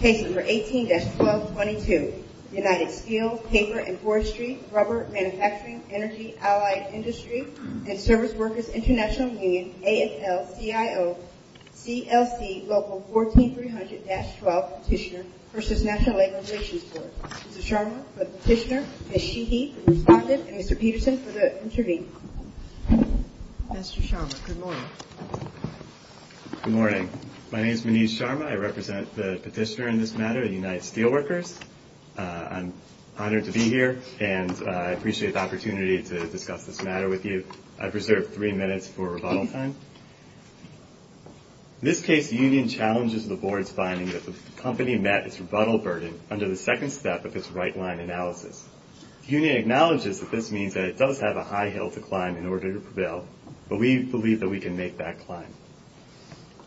Case number 18-1222, United Steel, Paper and Forestry, Rubber Manufacturing, Energy, Allied Industry, and Service Workers International Union, AFL-CIO, CLC Local 14300-12 Petitioner v. National Labor Relations Board. Mr. Sharma for the petitioner, Ms. Sheehy for the respondent, and Mr. Peterson for the interviewee. Mr. Sharma, good morning. Good morning. My name is Manish Sharma. I represent the petitioner in this matter at United Steel Workers. I'm honored to be here, and I appreciate the opportunity to discuss this matter with you. I've reserved three minutes for rebuttal time. In this case, the union challenges the board's finding that the company met its rebuttal burden under the second step of its right-line analysis. The union acknowledges that this means that it does have a high hill to climb in order to prevail, but we believe that we can make that climb.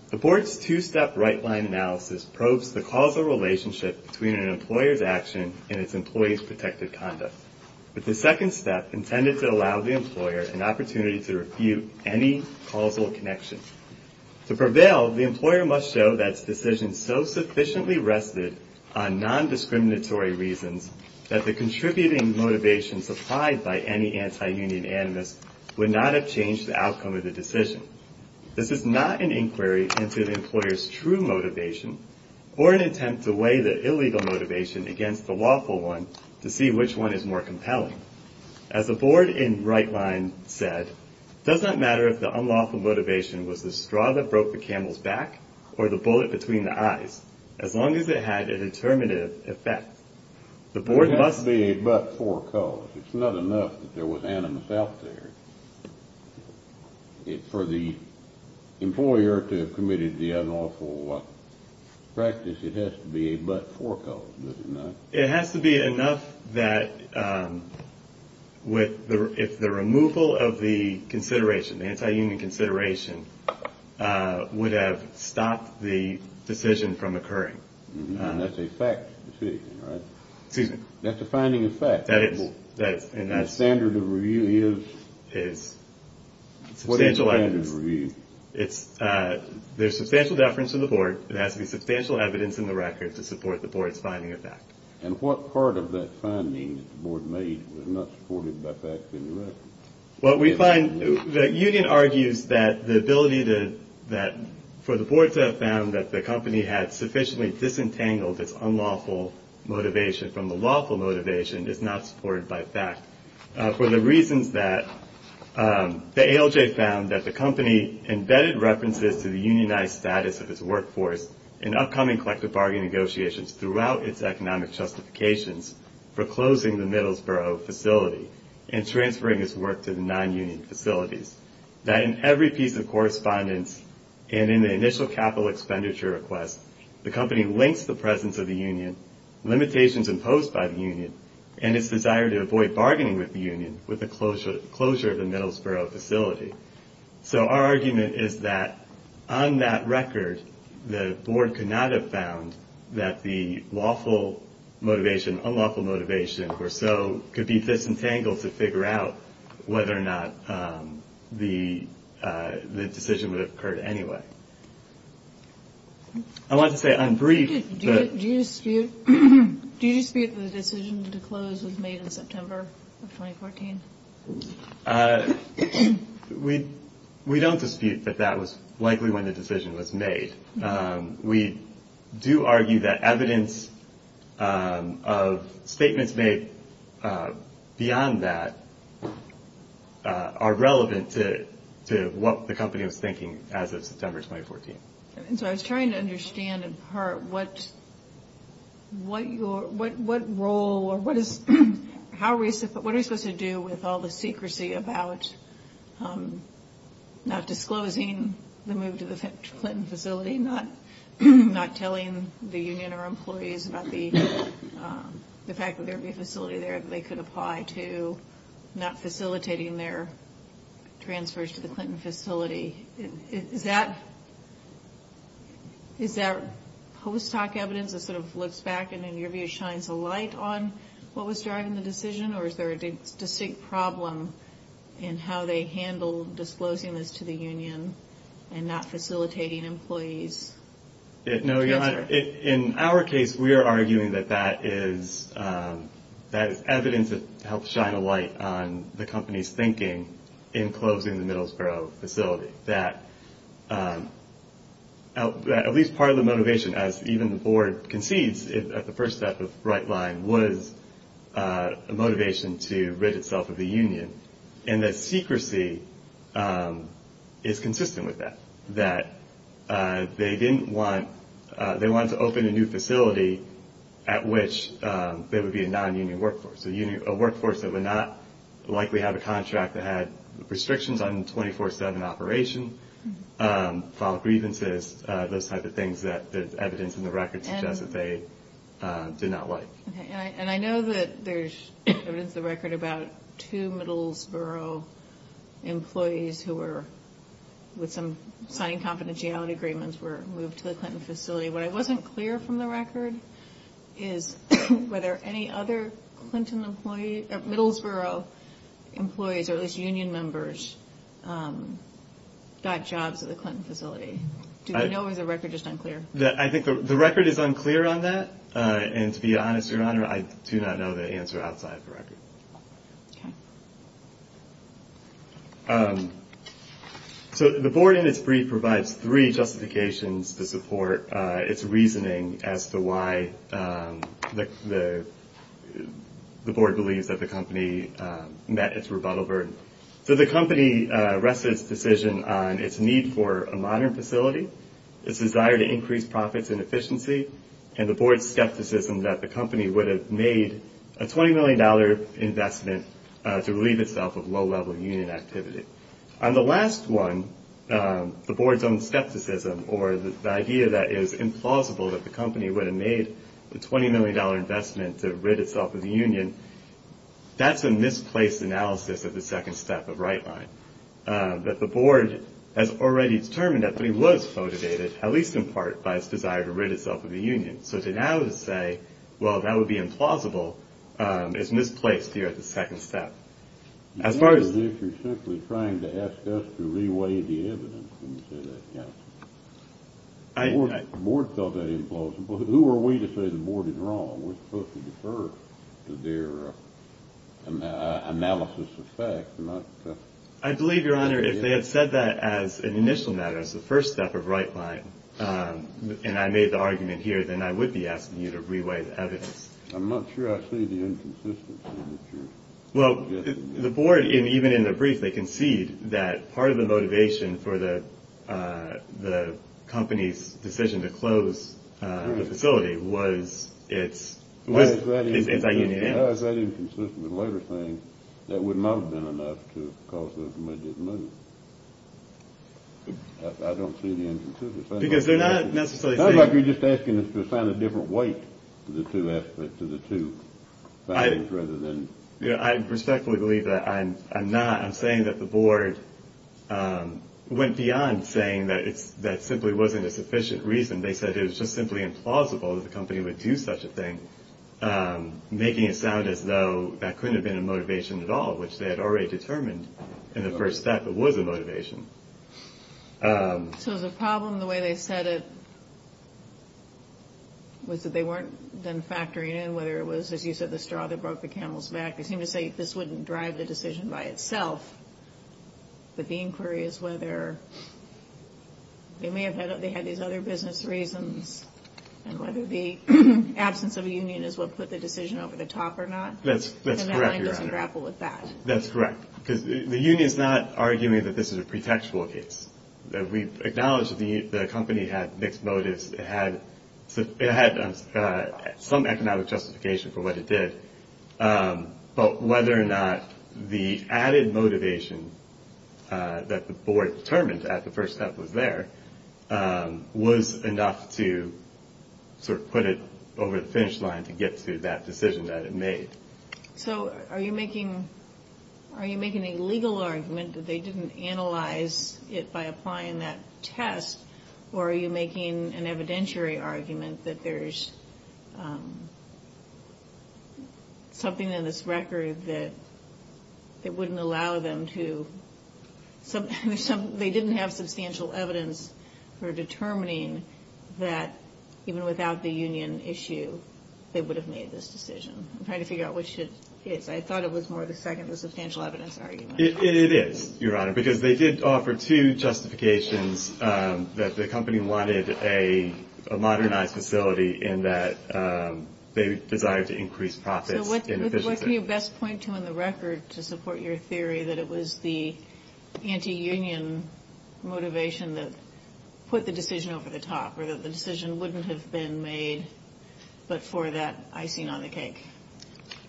The board's two-step right-line analysis probes the causal relationship between an employer's action and its employees' protected conduct, with the second step intended to allow the employer an opportunity to refute any causal connection. To prevail, the employer must show that its decision so sufficiently rested on non-discriminatory reasons that the contributing motivations applied by any anti-union animus would not have changed the outcome of the decision. This is not an inquiry into the employer's true motivation or an attempt to weigh the illegal motivation against the lawful one to see which one is more compelling. As the board in right-line said, it does not matter if the unlawful motivation was the straw that broke the camel's back or the bullet between the eyes, as long as it had a determinative effect. It has to be a but-for cause. It's not enough that there was animus out there. For the employer to have committed the unlawful practice, it has to be a but-for cause, doesn't it? It has to be enough that if the removal of the consideration, the anti-union consideration, would have stopped the decision from occurring. That's a fact decision, right? Excuse me? That's a finding of fact. That is. And the standard of review is? Is substantial evidence. What is the standard of review? There's substantial deference to the board. It has to be substantial evidence in the record to support the board's finding of fact. And what part of that finding that the board made was not supported by fact in the record? What we find, the union argues that the ability for the board to have found that the company had sufficiently disentangled its unlawful motivation from the lawful motivation is not supported by fact. For the reasons that the ALJ found that the company embedded references to the unionized status of its workforce in upcoming collective bargain negotiations throughout its economic justifications for closing the Middlesboro facility and transferring its work to the non-union facilities. That in every piece of correspondence and in the initial capital expenditure request, the company links the presence of the union, limitations imposed by the union, and its desire to avoid bargaining with the union with the closure of the Middlesboro facility. So our argument is that on that record, the board could not have found that the lawful motivation, unlawful motivation or so could be disentangled to figure out whether or not the decision would have occurred anyway. I want to say I'm brief. Do you dispute the decision to close was made in September of 2014? We don't dispute that that was likely when the decision was made. We do argue that evidence of statements made beyond that are relevant to what the company was thinking as of September 2014. And so I was trying to understand in part what role or what is, how are we supposed to do with all the secrecy about not disclosing the move to the Clinton facility, not telling the union or employees about the fact that there would be a facility there that they could apply to not facilitating their transfers to the Clinton facility. Is that post hoc evidence that sort of looks back and in your view shines a light on what was driving the decision or is there a distinct problem in how they handle disclosing this to the union and not facilitating employees? No, Your Honor. In our case, we are arguing that that is evidence that helps shine a light on the company's thinking in closing the Middlesbrough facility, that at least part of the motivation, as even the board concedes at the first step of Brightline, was a motivation to rid itself of the union. And that secrecy is consistent with that, that they didn't want, they wanted to open a new facility at which there would be a non-union workforce, a workforce that would not likely have a contract that had restrictions on 24-7 operation, filed grievances, those type of things that the evidence in the record suggests that they did not like. And I know that there's evidence in the record about two Middlesbrough employees who were, with some signing confidentiality agreements, were moved to the Clinton facility. What I wasn't clear from the record is whether any other Clinton employee, Middlesbrough employees or at least union members, got jobs at the Clinton facility. Do we know or is the record just unclear? I think the record is unclear on that. And to be honest, Your Honor, I do not know the answer outside the record. Okay. So the board in its brief provides three justifications to support its reasoning as to why the board believes that the company met its rebuttal burden. So the company rested its decision on its need for a modern facility, its desire to increase profits and efficiency, and the board's skepticism that the company would have made a $20 million investment to relieve itself of low-level union activity. On the last one, the board's own skepticism, or the idea that it is implausible that the company would have made the $20 million investment to rid itself of the union, that's a misplaced analysis of the second step of right line, that the board has already determined that it was motivated, at least in part, by its desire to rid itself of the union. So to now say, well, that would be implausible, is misplaced here at the second step. As far as if you're simply trying to ask us to reweigh the evidence when you say that, counsel. The board felt that implausible. Who are we to say the board is wrong? We're supposed to defer to their analysis of facts. I believe, Your Honor, if they had said that as an initial matter, as the first step of right line, and I made the argument here, then I would be asking you to reweigh the evidence. I'm not sure I see the inconsistency. Well, the board, even in the brief, they concede that part of the motivation for the company's decision to close the facility was its union. How is that inconsistent with the labor thing? That would not have been enough to cause those midgets to move. I don't see the inconsistency. Because they're not necessarily saying – It sounds like you're just asking us to assign a different weight to the two aspects of the two. I respectfully believe that I'm not. I'm saying that the board went beyond saying that that simply wasn't a sufficient reason. They said it was just simply implausible that the company would do such a thing, making it sound as though that couldn't have been a motivation at all, which they had already determined in the first step it was a motivation. So the problem, the way they said it, was that they weren't then factoring in whether it was, as you said, the straw that broke the camel's back. They seem to say this wouldn't drive the decision by itself. But the inquiry is whether they may have had these other business reasons and whether the absence of a union is what put the decision over the top or not. That's correct, Your Honor. And the line doesn't grapple with that. That's correct. Because the union's not arguing that this is a pretextual case. We acknowledge that the company had mixed motives. It had some economic justification for what it did. But whether or not the added motivation that the board determined at the first step was there was enough to sort of put it over the finish line to get to that decision that it made. So are you making a legal argument that they didn't analyze it by applying that test, or are you making an evidentiary argument that there's something in this record that wouldn't allow them to – they didn't have substantial evidence for determining that, even without the union issue, they would have made this decision. I'm trying to figure out which it is. I thought it was more the second, the substantial evidence argument. It is, Your Honor. Because they did offer two justifications that the company wanted a modernized facility in that they desired to increase profits in efficiency. So what can you best point to in the record to support your theory that it was the anti-union motivation that put the decision over the top, or that the decision wouldn't have been made, but for that icing on the cake?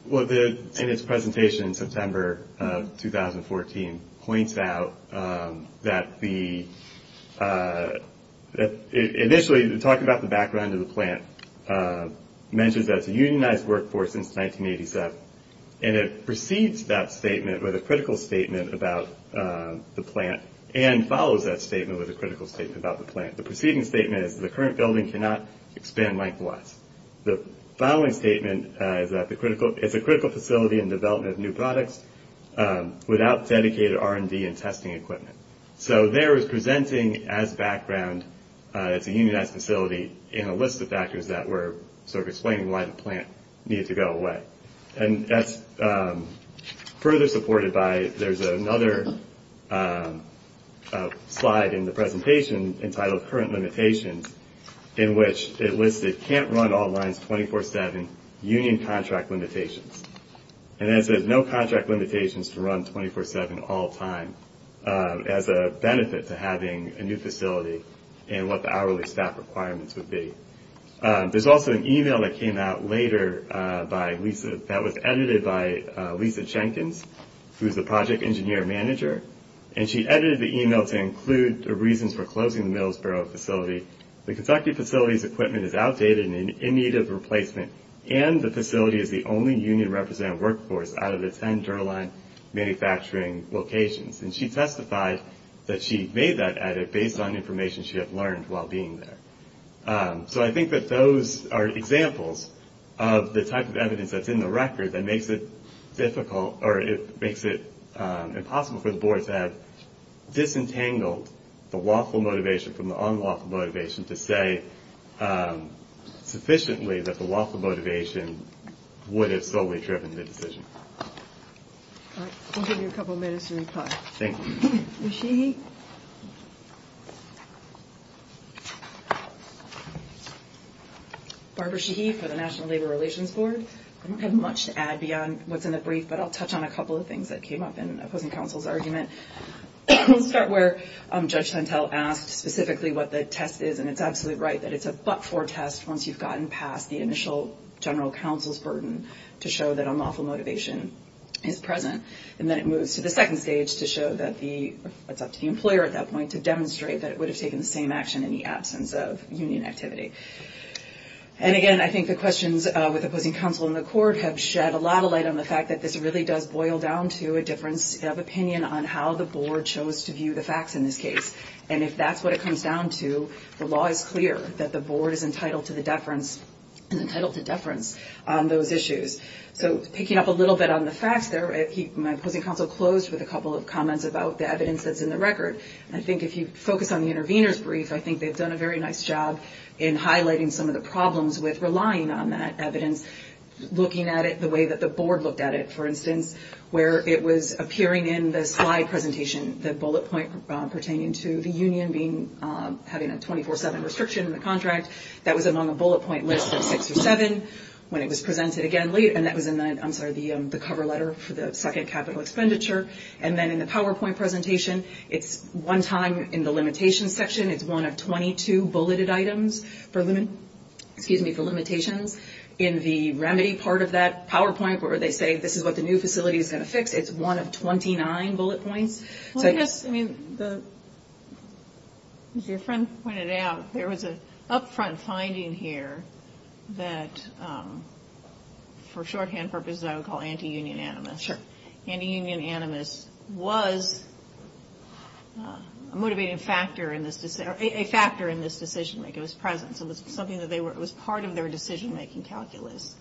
Well, in its presentation in September of 2014, it points out that the – initially, talking about the background of the plant, it mentions that it's a unionized workforce since 1987, and it precedes that statement with a critical statement about the plant, and follows that statement with a critical statement about the plant. The preceding statement is that the current building cannot expand likewise. The following statement is that it's a critical facility in development of new products without dedicated R&D and testing equipment. So there it's presenting as background it's a unionized facility in a list of factors that were sort of explaining why the plant needed to go away. And that's further supported by – there's another slide in the presentation entitled Current Limitations, in which it listed can't run all lines 24-7 union contract limitations. And it says no contract limitations to run 24-7 all time as a benefit to having a new facility and what the hourly staff requirements would be. There's also an email that came out later by Lisa – that was edited by Lisa Jenkins, who's the project engineer manager, and she edited the email to include the reasons for closing the Middlesboro facility. The constructed facility's equipment is outdated and in need of replacement, and the facility is the only union represented workforce out of the 10 Durline manufacturing locations. And she testified that she made that edit based on information she had learned while being there. So I think that those are examples of the type of evidence that's in the record that makes it difficult – or it makes it impossible for the board to have disentangled the lawful motivation from the unlawful motivation to say sufficiently that the lawful motivation would have solely driven the decision. All right. We'll give you a couple minutes to reply. Thank you. Ms. Sheehy? Barbara Sheehy for the National Labor Relations Board. I don't have much to add beyond what's in the brief, but I'll touch on a couple of things that came up in opposing counsel's argument. We'll start where Judge Santel asked specifically what the test is, and it's absolutely right that it's a but-for test once you've gotten past the initial general counsel's burden to show that unlawful motivation is present. And then it moves to the second stage to show that the – it's up to the employer at that point to demonstrate that it would have taken the same action in the absence of union activity. And again, I think the questions with opposing counsel in the court have shed a lot of light on the fact that this really does boil down to a difference of opinion on how the board chose to view the facts in this case. And if that's what it comes down to, the law is clear that the board is entitled to deference on those issues. So picking up a little bit on the facts there, my opposing counsel closed with a couple of comments about the evidence that's in the record. I think if you focus on the intervener's brief, I think they've done a very nice job in highlighting some of the problems with relying on that evidence, looking at it the way that the board looked at it, for instance, where it was appearing in the slide presentation, the bullet point pertaining to the union being – having a 24-7 restriction in the contract. That was among the bullet point list of six or seven when it was presented again later, and that was in the – I'm sorry, the cover letter for the second capital expenditure. And then in the PowerPoint presentation, it's one time in the limitations section. It's one of 22 bulleted items for – excuse me, for limitations. In the remedy part of that PowerPoint where they say this is what the new facility is going to fix, it's one of 29 bullet points. So I guess, I mean, as your friend pointed out, there was an upfront finding here that, for shorthand purposes, I would call anti-union animus. Sure. Anti-union animus was a motivating factor in this – or a factor in this decision-making. It was present. So it was something that they were – it was part of their decision-making calculus.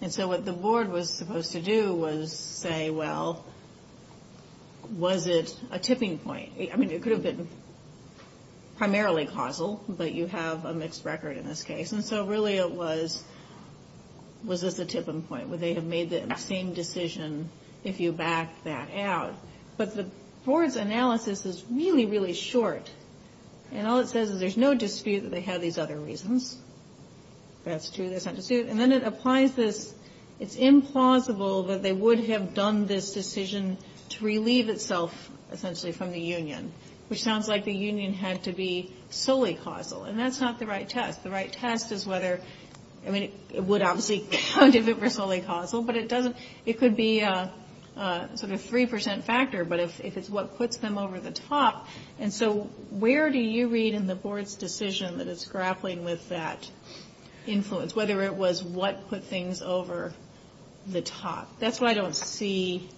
And so what the board was supposed to do was say, well, was it a tipping point? I mean, it could have been primarily causal, but you have a mixed record in this case. And so really it was, was this a tipping point? Would they have made the same decision if you backed that out? But the board's analysis is really, really short. And all it says is there's no dispute that they had these other reasons. That's true, there's not dispute. And then it applies this – it's implausible that they would have done this decision to relieve itself, essentially, from the union, which sounds like the union had to be solely causal. And that's not the right test. The right test is whether – I mean, it would obviously count if it were solely causal, but it doesn't – it could be a sort of 3% factor, but if it's what puts them over the top. And so where do you read in the board's decision that it's grappling with that influence, whether it was what put things over the top? That's what I don't see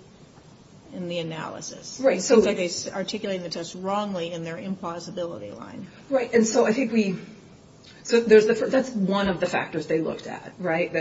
in the analysis. Right. It seems like they articulated the test wrongly in their implausibility line. Right. And so I think we – so that's one of the factors they looked at, right?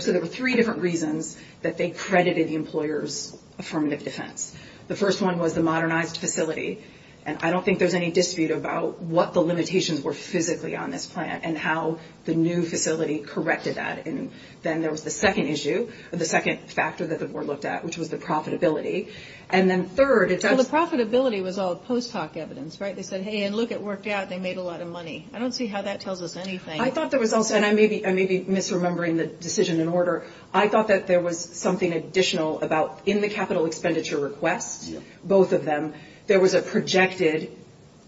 So there were three different reasons that they credited the employer's affirmative defense. The first one was the modernized facility. And I don't think there's any dispute about what the limitations were physically on this plan and how the new facility corrected that. And then there was the second issue, the second factor that the board looked at, which was the profitability. And then third – Well, the profitability was all post hoc evidence, right? They said, hey, and look, it worked out. They made a lot of money. I don't see how that tells us anything. I thought there was also – and I may be misremembering the decision in order. I thought that there was something additional about in the capital expenditure request, both of them, there was a projected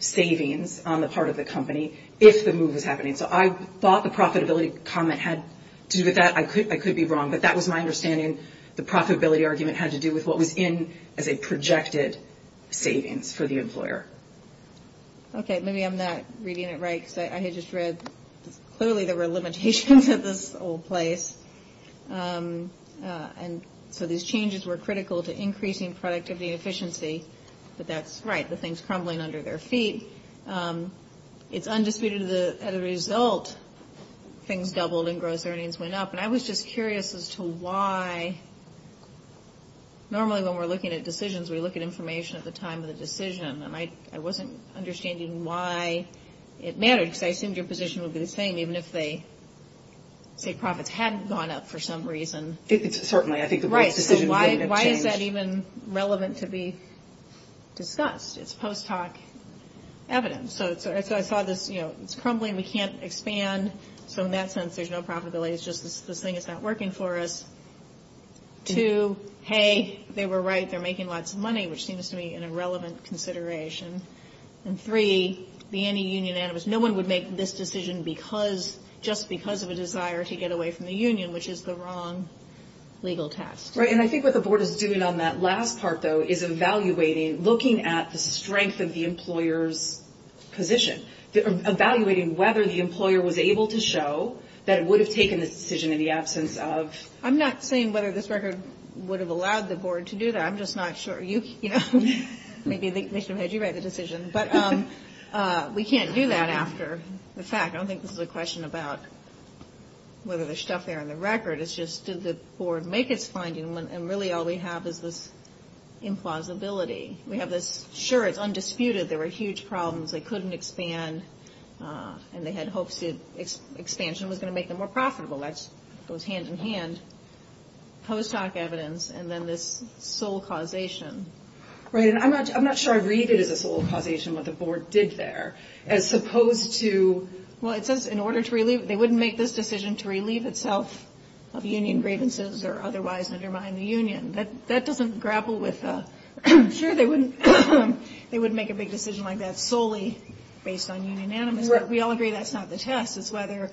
savings on the part of the company if the move was happening. So I thought the profitability comment had to do with that. I could be wrong, but that was my understanding. The profitability argument had to do with what was in as a projected savings for the employer. Okay, maybe I'm not reading it right because I had just read clearly there were limitations at this old place. And so these changes were critical to increasing productivity and efficiency. But that's right, the thing's crumbling under their feet. It's undisputed that as a result, things doubled and gross earnings went up. And I was just curious as to why – normally when we're looking at decisions, we look at information at the time of the decision. And I wasn't understanding why it mattered because I assumed your position would be the same, even if they say profits hadn't gone up for some reason. Certainly, I think the decision would have changed. Right, so why is that even relevant to be discussed? It's post-talk evidence. So I saw this, you know, it's crumbling, we can't expand. So in that sense, there's no profitability, it's just this thing is not working for us. Two, hey, they were right, they're making lots of money, which seems to me an irrelevant consideration. And three, the anti-union animus, no one would make this decision because – just because of a desire to get away from the union, which is the wrong legal text. Right, and I think what the Board is doing on that last part, though, is evaluating, looking at the strength of the employer's position, evaluating whether the employer was able to show that it would have taken this decision in the absence of... I'm not saying whether this record would have allowed the Board to do that. I'm just not sure. You know, maybe they should have had you write the decision. But we can't do that after the fact. I don't think this is a question about whether there's stuff there in the record. It's just did the Board make its finding, and really all we have is this implausibility. We have this, sure, it's undisputed there were huge problems. They couldn't expand, and they had hopes that expansion was going to make them more profitable. That goes hand-in-hand. Post-hoc evidence, and then this sole causation. Right, and I'm not sure I read it as a sole causation, what the Board did there, as opposed to... Well, it says in order to relieve... They wouldn't make this decision to relieve itself of union grievances or otherwise undermine the union. That doesn't grapple with... Sure, they wouldn't make a big decision like that solely based on union animus. But we all agree that's not the test. It's whether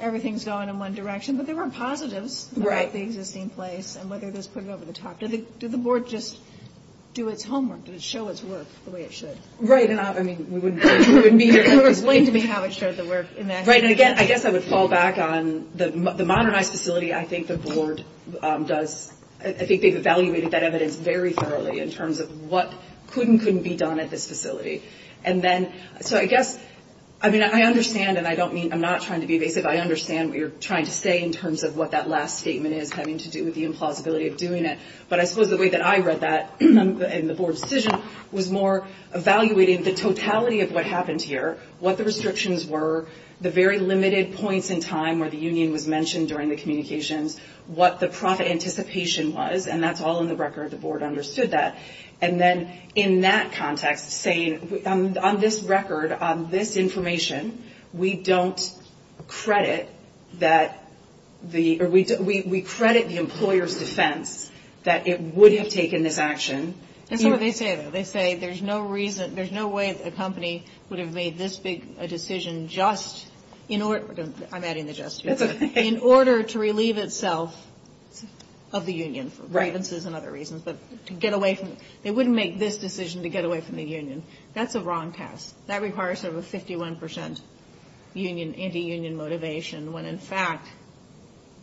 everything's going in one direction. But there were positives about the existing place and whether those put it over the top. Did the Board just do its homework? Did it show its work the way it should? Right, and I mean, we wouldn't... Explain to me how it showed the work in that... Right, and again, I guess I would fall back on the modernized facility. I think the Board does... I think they've evaluated that evidence very thoroughly in terms of what could and couldn't be done at this facility. And then... So I guess... I mean, I understand, and I don't mean... I'm not trying to be evasive. I understand what you're trying to say in terms of what that last statement is having to do with the implausibility of doing it. But I suppose the way that I read that in the Board decision was more evaluating the totality of what happened here, what the restrictions were, the very limited points in time where the union was mentioned during the communications, what the profit anticipation was, and that's all in the record. The Board understood that. And then in that context, saying on this record, on this information, we don't credit that the... We credit the employer's defense that it would have taken this action. That's not what they say, though. They say there's no reason... There's no way that a company would have made this big a decision just in order... I'm adding the just here. That's okay. In order to relieve itself of the union. Right. For grievances and other reasons. But to get away from... They wouldn't make this decision to get away from the union. That's a wrong test. That requires sort of a 51 percent union, anti-union motivation when, in fact,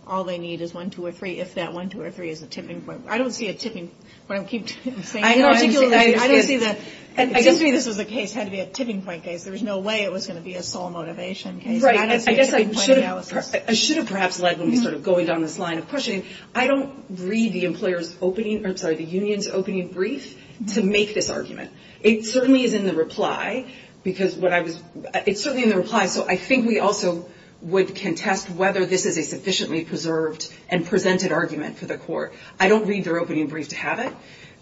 all they need is one, two, or three, if that one, two, or three is a tipping point. I don't see a tipping... When I keep saying... I don't see... I don't see the... It seems to me this was a case. It had to be a tipping point case. There was no way it was going to be a sole motivation case. Right. I don't see a tipping point analysis. I should have perhaps led when we started going down this line of questioning. I don't read the employer's opening... I'm sorry, the union's opening brief to make this argument. It certainly is in the reply because what I was... It's certainly in the reply, so I think we also would contest whether this is a sufficiently preserved and presented argument for the court. I don't read their opening brief to have it,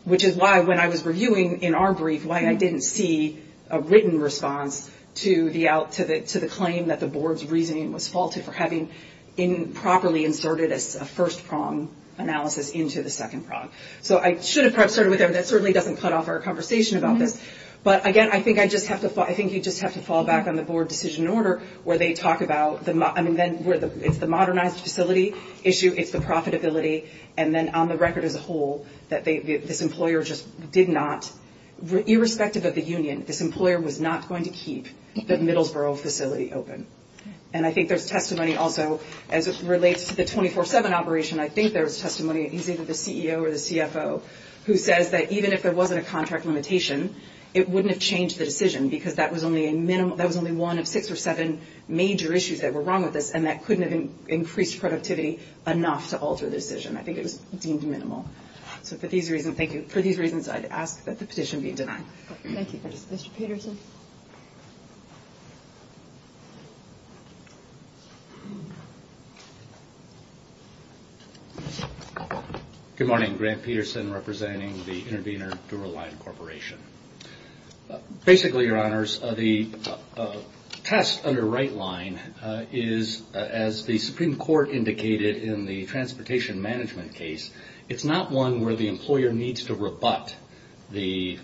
which is why, when I was reviewing in our brief, why I didn't see a written response to the claim that the board's reasoning was faulted for having improperly inserted a first prong analysis into the second prong. So I should have perhaps started with that. That certainly doesn't cut off our conversation about this. But, again, I think you just have to fall back on the board decision order where they talk about... I mean, it's the modernized facility issue. It's the profitability. And then on the record as a whole, that this employer just did not... Irrespective of the union, this employer was not going to keep the Middlesbrough facility open. And I think there's testimony also as it relates to the 24-7 operation. I think there's testimony. It's either the CEO or the CFO who says that even if there wasn't a contract limitation, it wouldn't have changed the decision because that was only a minimum... That was only one of six or seven major issues that were wrong with this, and that couldn't have increased productivity enough to alter the decision. I think it was deemed minimal. So for these reasons, thank you. For these reasons, I'd ask that the petition be denied. Thank you. Mr. Peterson. Good morning. Grant Peterson representing the Intervenor Duraline Corporation. Basically, Your Honors, the test under right line is, as the Supreme Court indicated in the transportation management case, it's not one where the employer needs to rebut the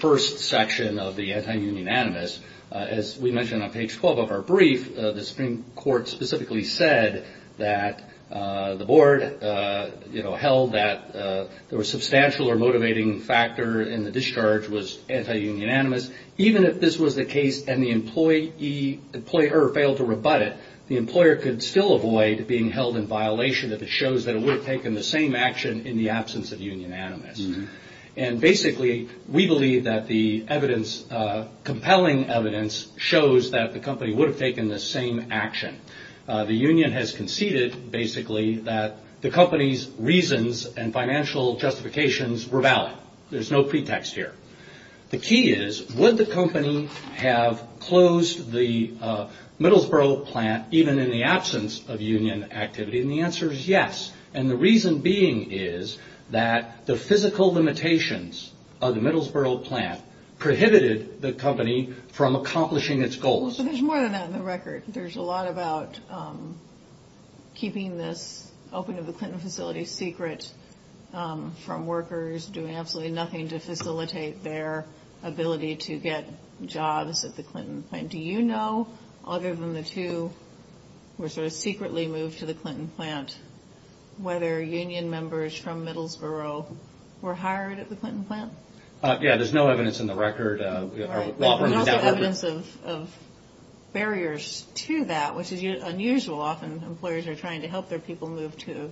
first section of the anti-union animus. As we mentioned on page 12 of our brief, the Supreme Court specifically said that the board held that there were a substantial or motivating factor in the discharge was anti-union animus. Even if this was the case and the employer failed to rebut it, the employer could still avoid being held in violation if it shows that it would have taken the same action in the absence of union animus. And basically, we believe that the evidence, compelling evidence, shows that the company would have taken the same action. The union has conceded, basically, that the company's reasons and financial justifications were valid. There's no pretext here. The key is, would the company have closed the Middlesbrough plant even in the absence of union activity? And the answer is yes. And the reason being is that the physical limitations of the Middlesbrough plant prohibited the company from accomplishing its goals. There's more than that in the record. There's a lot about keeping this open of the Clinton facility secret from workers, doing absolutely nothing to facilitate their ability to get jobs at the Clinton plant. Do you know, other than the two who were sort of secretly moved to the Clinton plant, whether union members from Middlesbrough were hired at the Clinton plant? Yeah, there's no evidence in the record. There's also evidence of barriers to that, which is unusual. Often employers are trying to help their people move to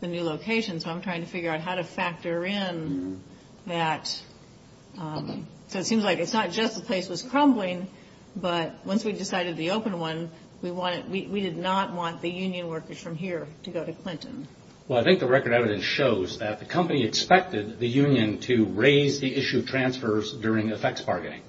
the new location, so I'm trying to figure out how to factor in that. So it seems like it's not just the place was crumbling, but once we decided the open one, we did not want the union workers from here to go to Clinton. Well, I think the record evidence shows that the company expected the union to raise the issue of transfers during effects bargaining,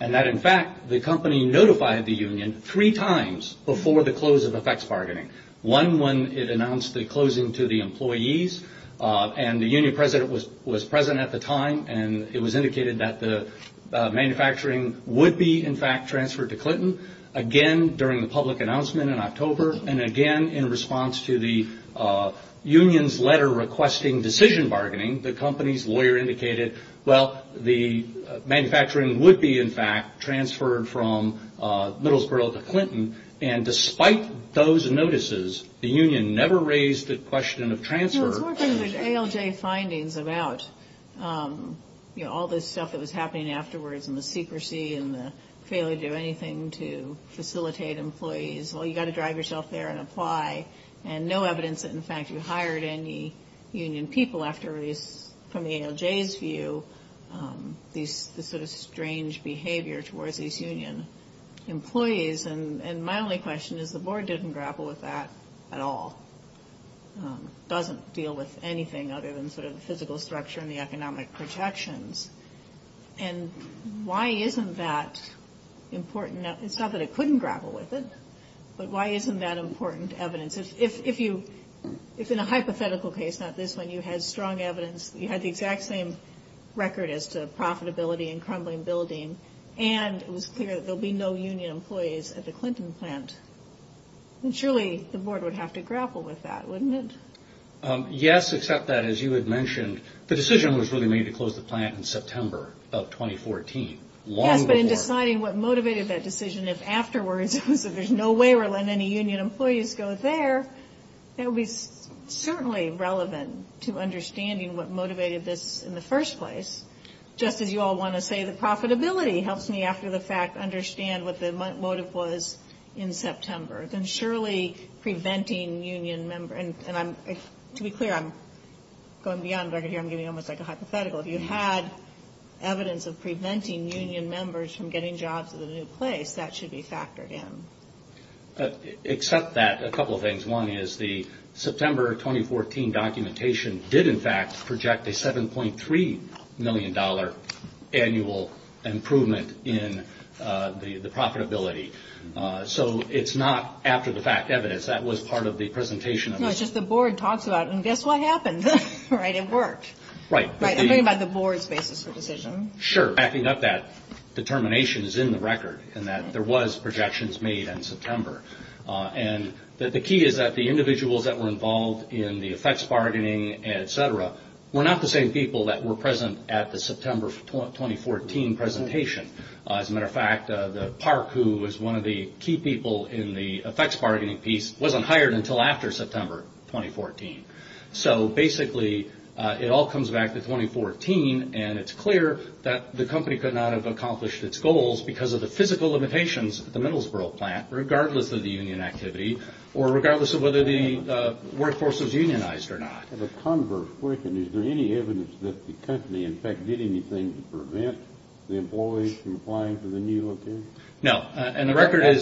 and that, in fact, the company notified the union three times before the close of effects bargaining. One, when it announced the closing to the employees, and the union president was present at the time, and it was indicated that the manufacturing would be, in fact, transferred to Clinton. Again, during the public announcement in October, and again in response to the union's letter requesting decision bargaining, the company's lawyer indicated, well, the manufacturing would be, in fact, transferred from Middlesbrough to Clinton, and despite those notices, the union never raised the question of transfer. No, it's working with ALJ findings about, you know, all this stuff that was happening afterwards and the secrecy and the failure to do anything to facilitate employees. Well, you've got to drive yourself there and apply, and no evidence that, in fact, you hired any union people after, from the ALJ's view, this sort of strange behavior towards these union employees. And my only question is the board didn't grapple with that at all, doesn't deal with anything other than sort of the physical structure and the economic projections. And why isn't that important? It's not that it couldn't grapple with it, but why isn't that important evidence? If in a hypothetical case, not this one, you had strong evidence, you had the exact same record as to profitability and crumbling building, and it was clear that there would be no union employees at the Clinton plant, then surely the board would have to grapple with that, wouldn't it? Yes, except that, as you had mentioned, the decision was really made to close the plant in September of 2014, long before. Yes, but in deciding what motivated that decision, if afterwards it was that there's no way we're letting any union employees go there, that would be certainly relevant to understanding what motivated this in the first place. Just as you all want to say the profitability helps me, after the fact, understand what the motive was in September. Then surely preventing union members, and to be clear, I'm going beyond record here. I'm giving you almost like a hypothetical. If you had evidence of preventing union members from getting jobs at the new place, that should be factored in. Except that, a couple of things. One is the September 2014 documentation did, in fact, project a $7.3 million annual improvement in the profitability. So it's not after the fact evidence. That was part of the presentation. No, it's just the board talks about, and guess what happened? It worked. Right. I'm talking about the board's basis for decision. Sure, backing up that determination is in the record, and that there was projections made in September. The key is that the individuals that were involved in the effects bargaining, et cetera, were not the same people that were present at the September 2014 presentation. As a matter of fact, the park who was one of the key people in the effects bargaining piece wasn't hired until after September 2014. So basically, it all comes back to 2014, and it's clear that the company could not have accomplished its goals because of the physical limitations at the Middlesbrough plant, regardless of the union activity, or regardless of whether the workforce was unionized or not. I have a converse question. Is there any evidence that the company, in fact, did anything to prevent the employees from applying for the new location? No. I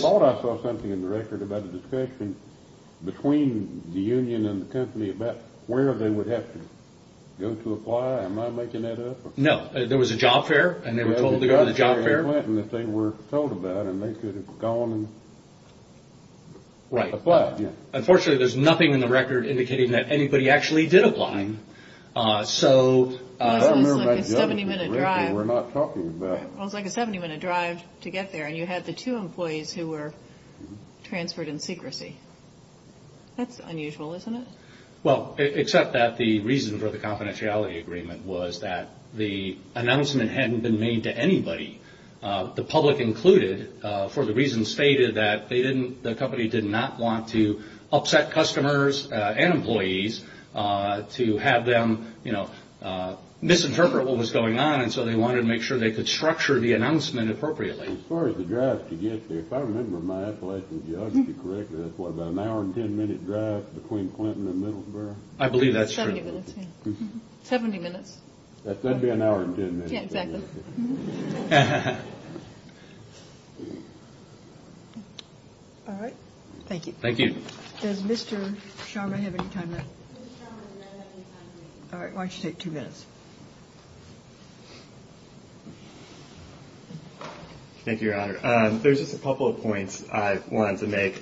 thought I saw something in the record about a discussion between the union and the company about where they would have to go to apply. Am I making that up? No. There was a job fair, and they were told to go to the job fair. They were told about it, and they could have gone and applied. Unfortunately, there's nothing in the record indicating that anybody actually did apply. It was like a 70-minute drive to get there, and you had the two employees who were transferred in secrecy. That's unusual, isn't it? Well, except that the reason for the confidentiality agreement was that the announcement hadn't been made to anybody, the public included, for the reasons stated that the company did not want to upset customers and employees to have them misinterpret what was going on, and so they wanted to make sure they could structure the announcement appropriately. As far as the drive to get there, if I remember my appellation geographically correctly, that's what, about an hour and 10-minute drive between Clinton and Middlesbrough? I believe that's true. Seventy minutes, yeah. Seventy minutes. That'd be an hour and 10 minutes. Yeah, exactly. All right. Thank you. Thank you. Does Mr. Sharma have any time left? Mr. Sharma does not have any time left. All right, why don't you take two minutes? Thank you, Your Honor. There's just a couple of points I wanted to make.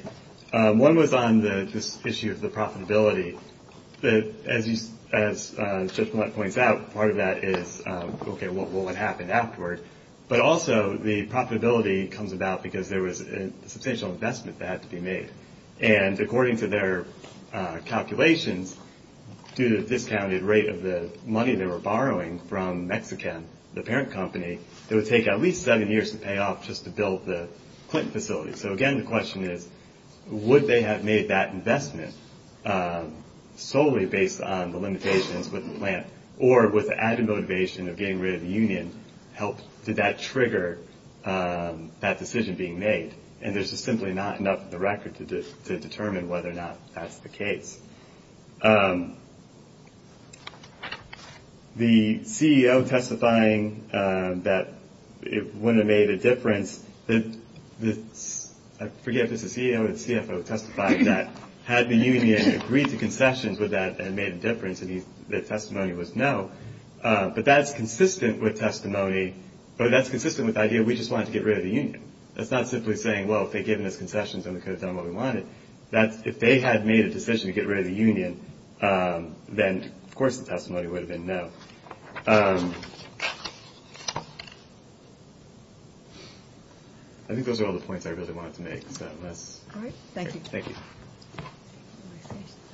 One was on this issue of the profitability. As Judge Blunt points out, part of that is, okay, well, what happened afterward? But also the profitability comes about because there was a substantial investment that had to be made, and according to their calculations, due to the discounted rate of the money they were borrowing from Mexican, the parent company, it would take at least seven years to pay off just to build the Clinton facility. So, again, the question is, would they have made that investment solely based on the limitations with the plant, or with the added motivation of getting rid of the union, did that trigger that decision being made? And there's just simply not enough in the record to determine whether or not that's the case. The CEO testifying that it would have made a difference, I forget if it's the CEO or the CFO testifying that, had the union agreed to concessions with that and made a difference, and the testimony was no. But that's consistent with testimony, but that's consistent with the idea we just wanted to get rid of the union. That's not simply saying, well, if they had given us concessions, then we could have done what we wanted. If they had made a decision to get rid of the union, then, of course, the testimony would have been no. I think those are all the points I really wanted to make. All right, thank you. Thank you.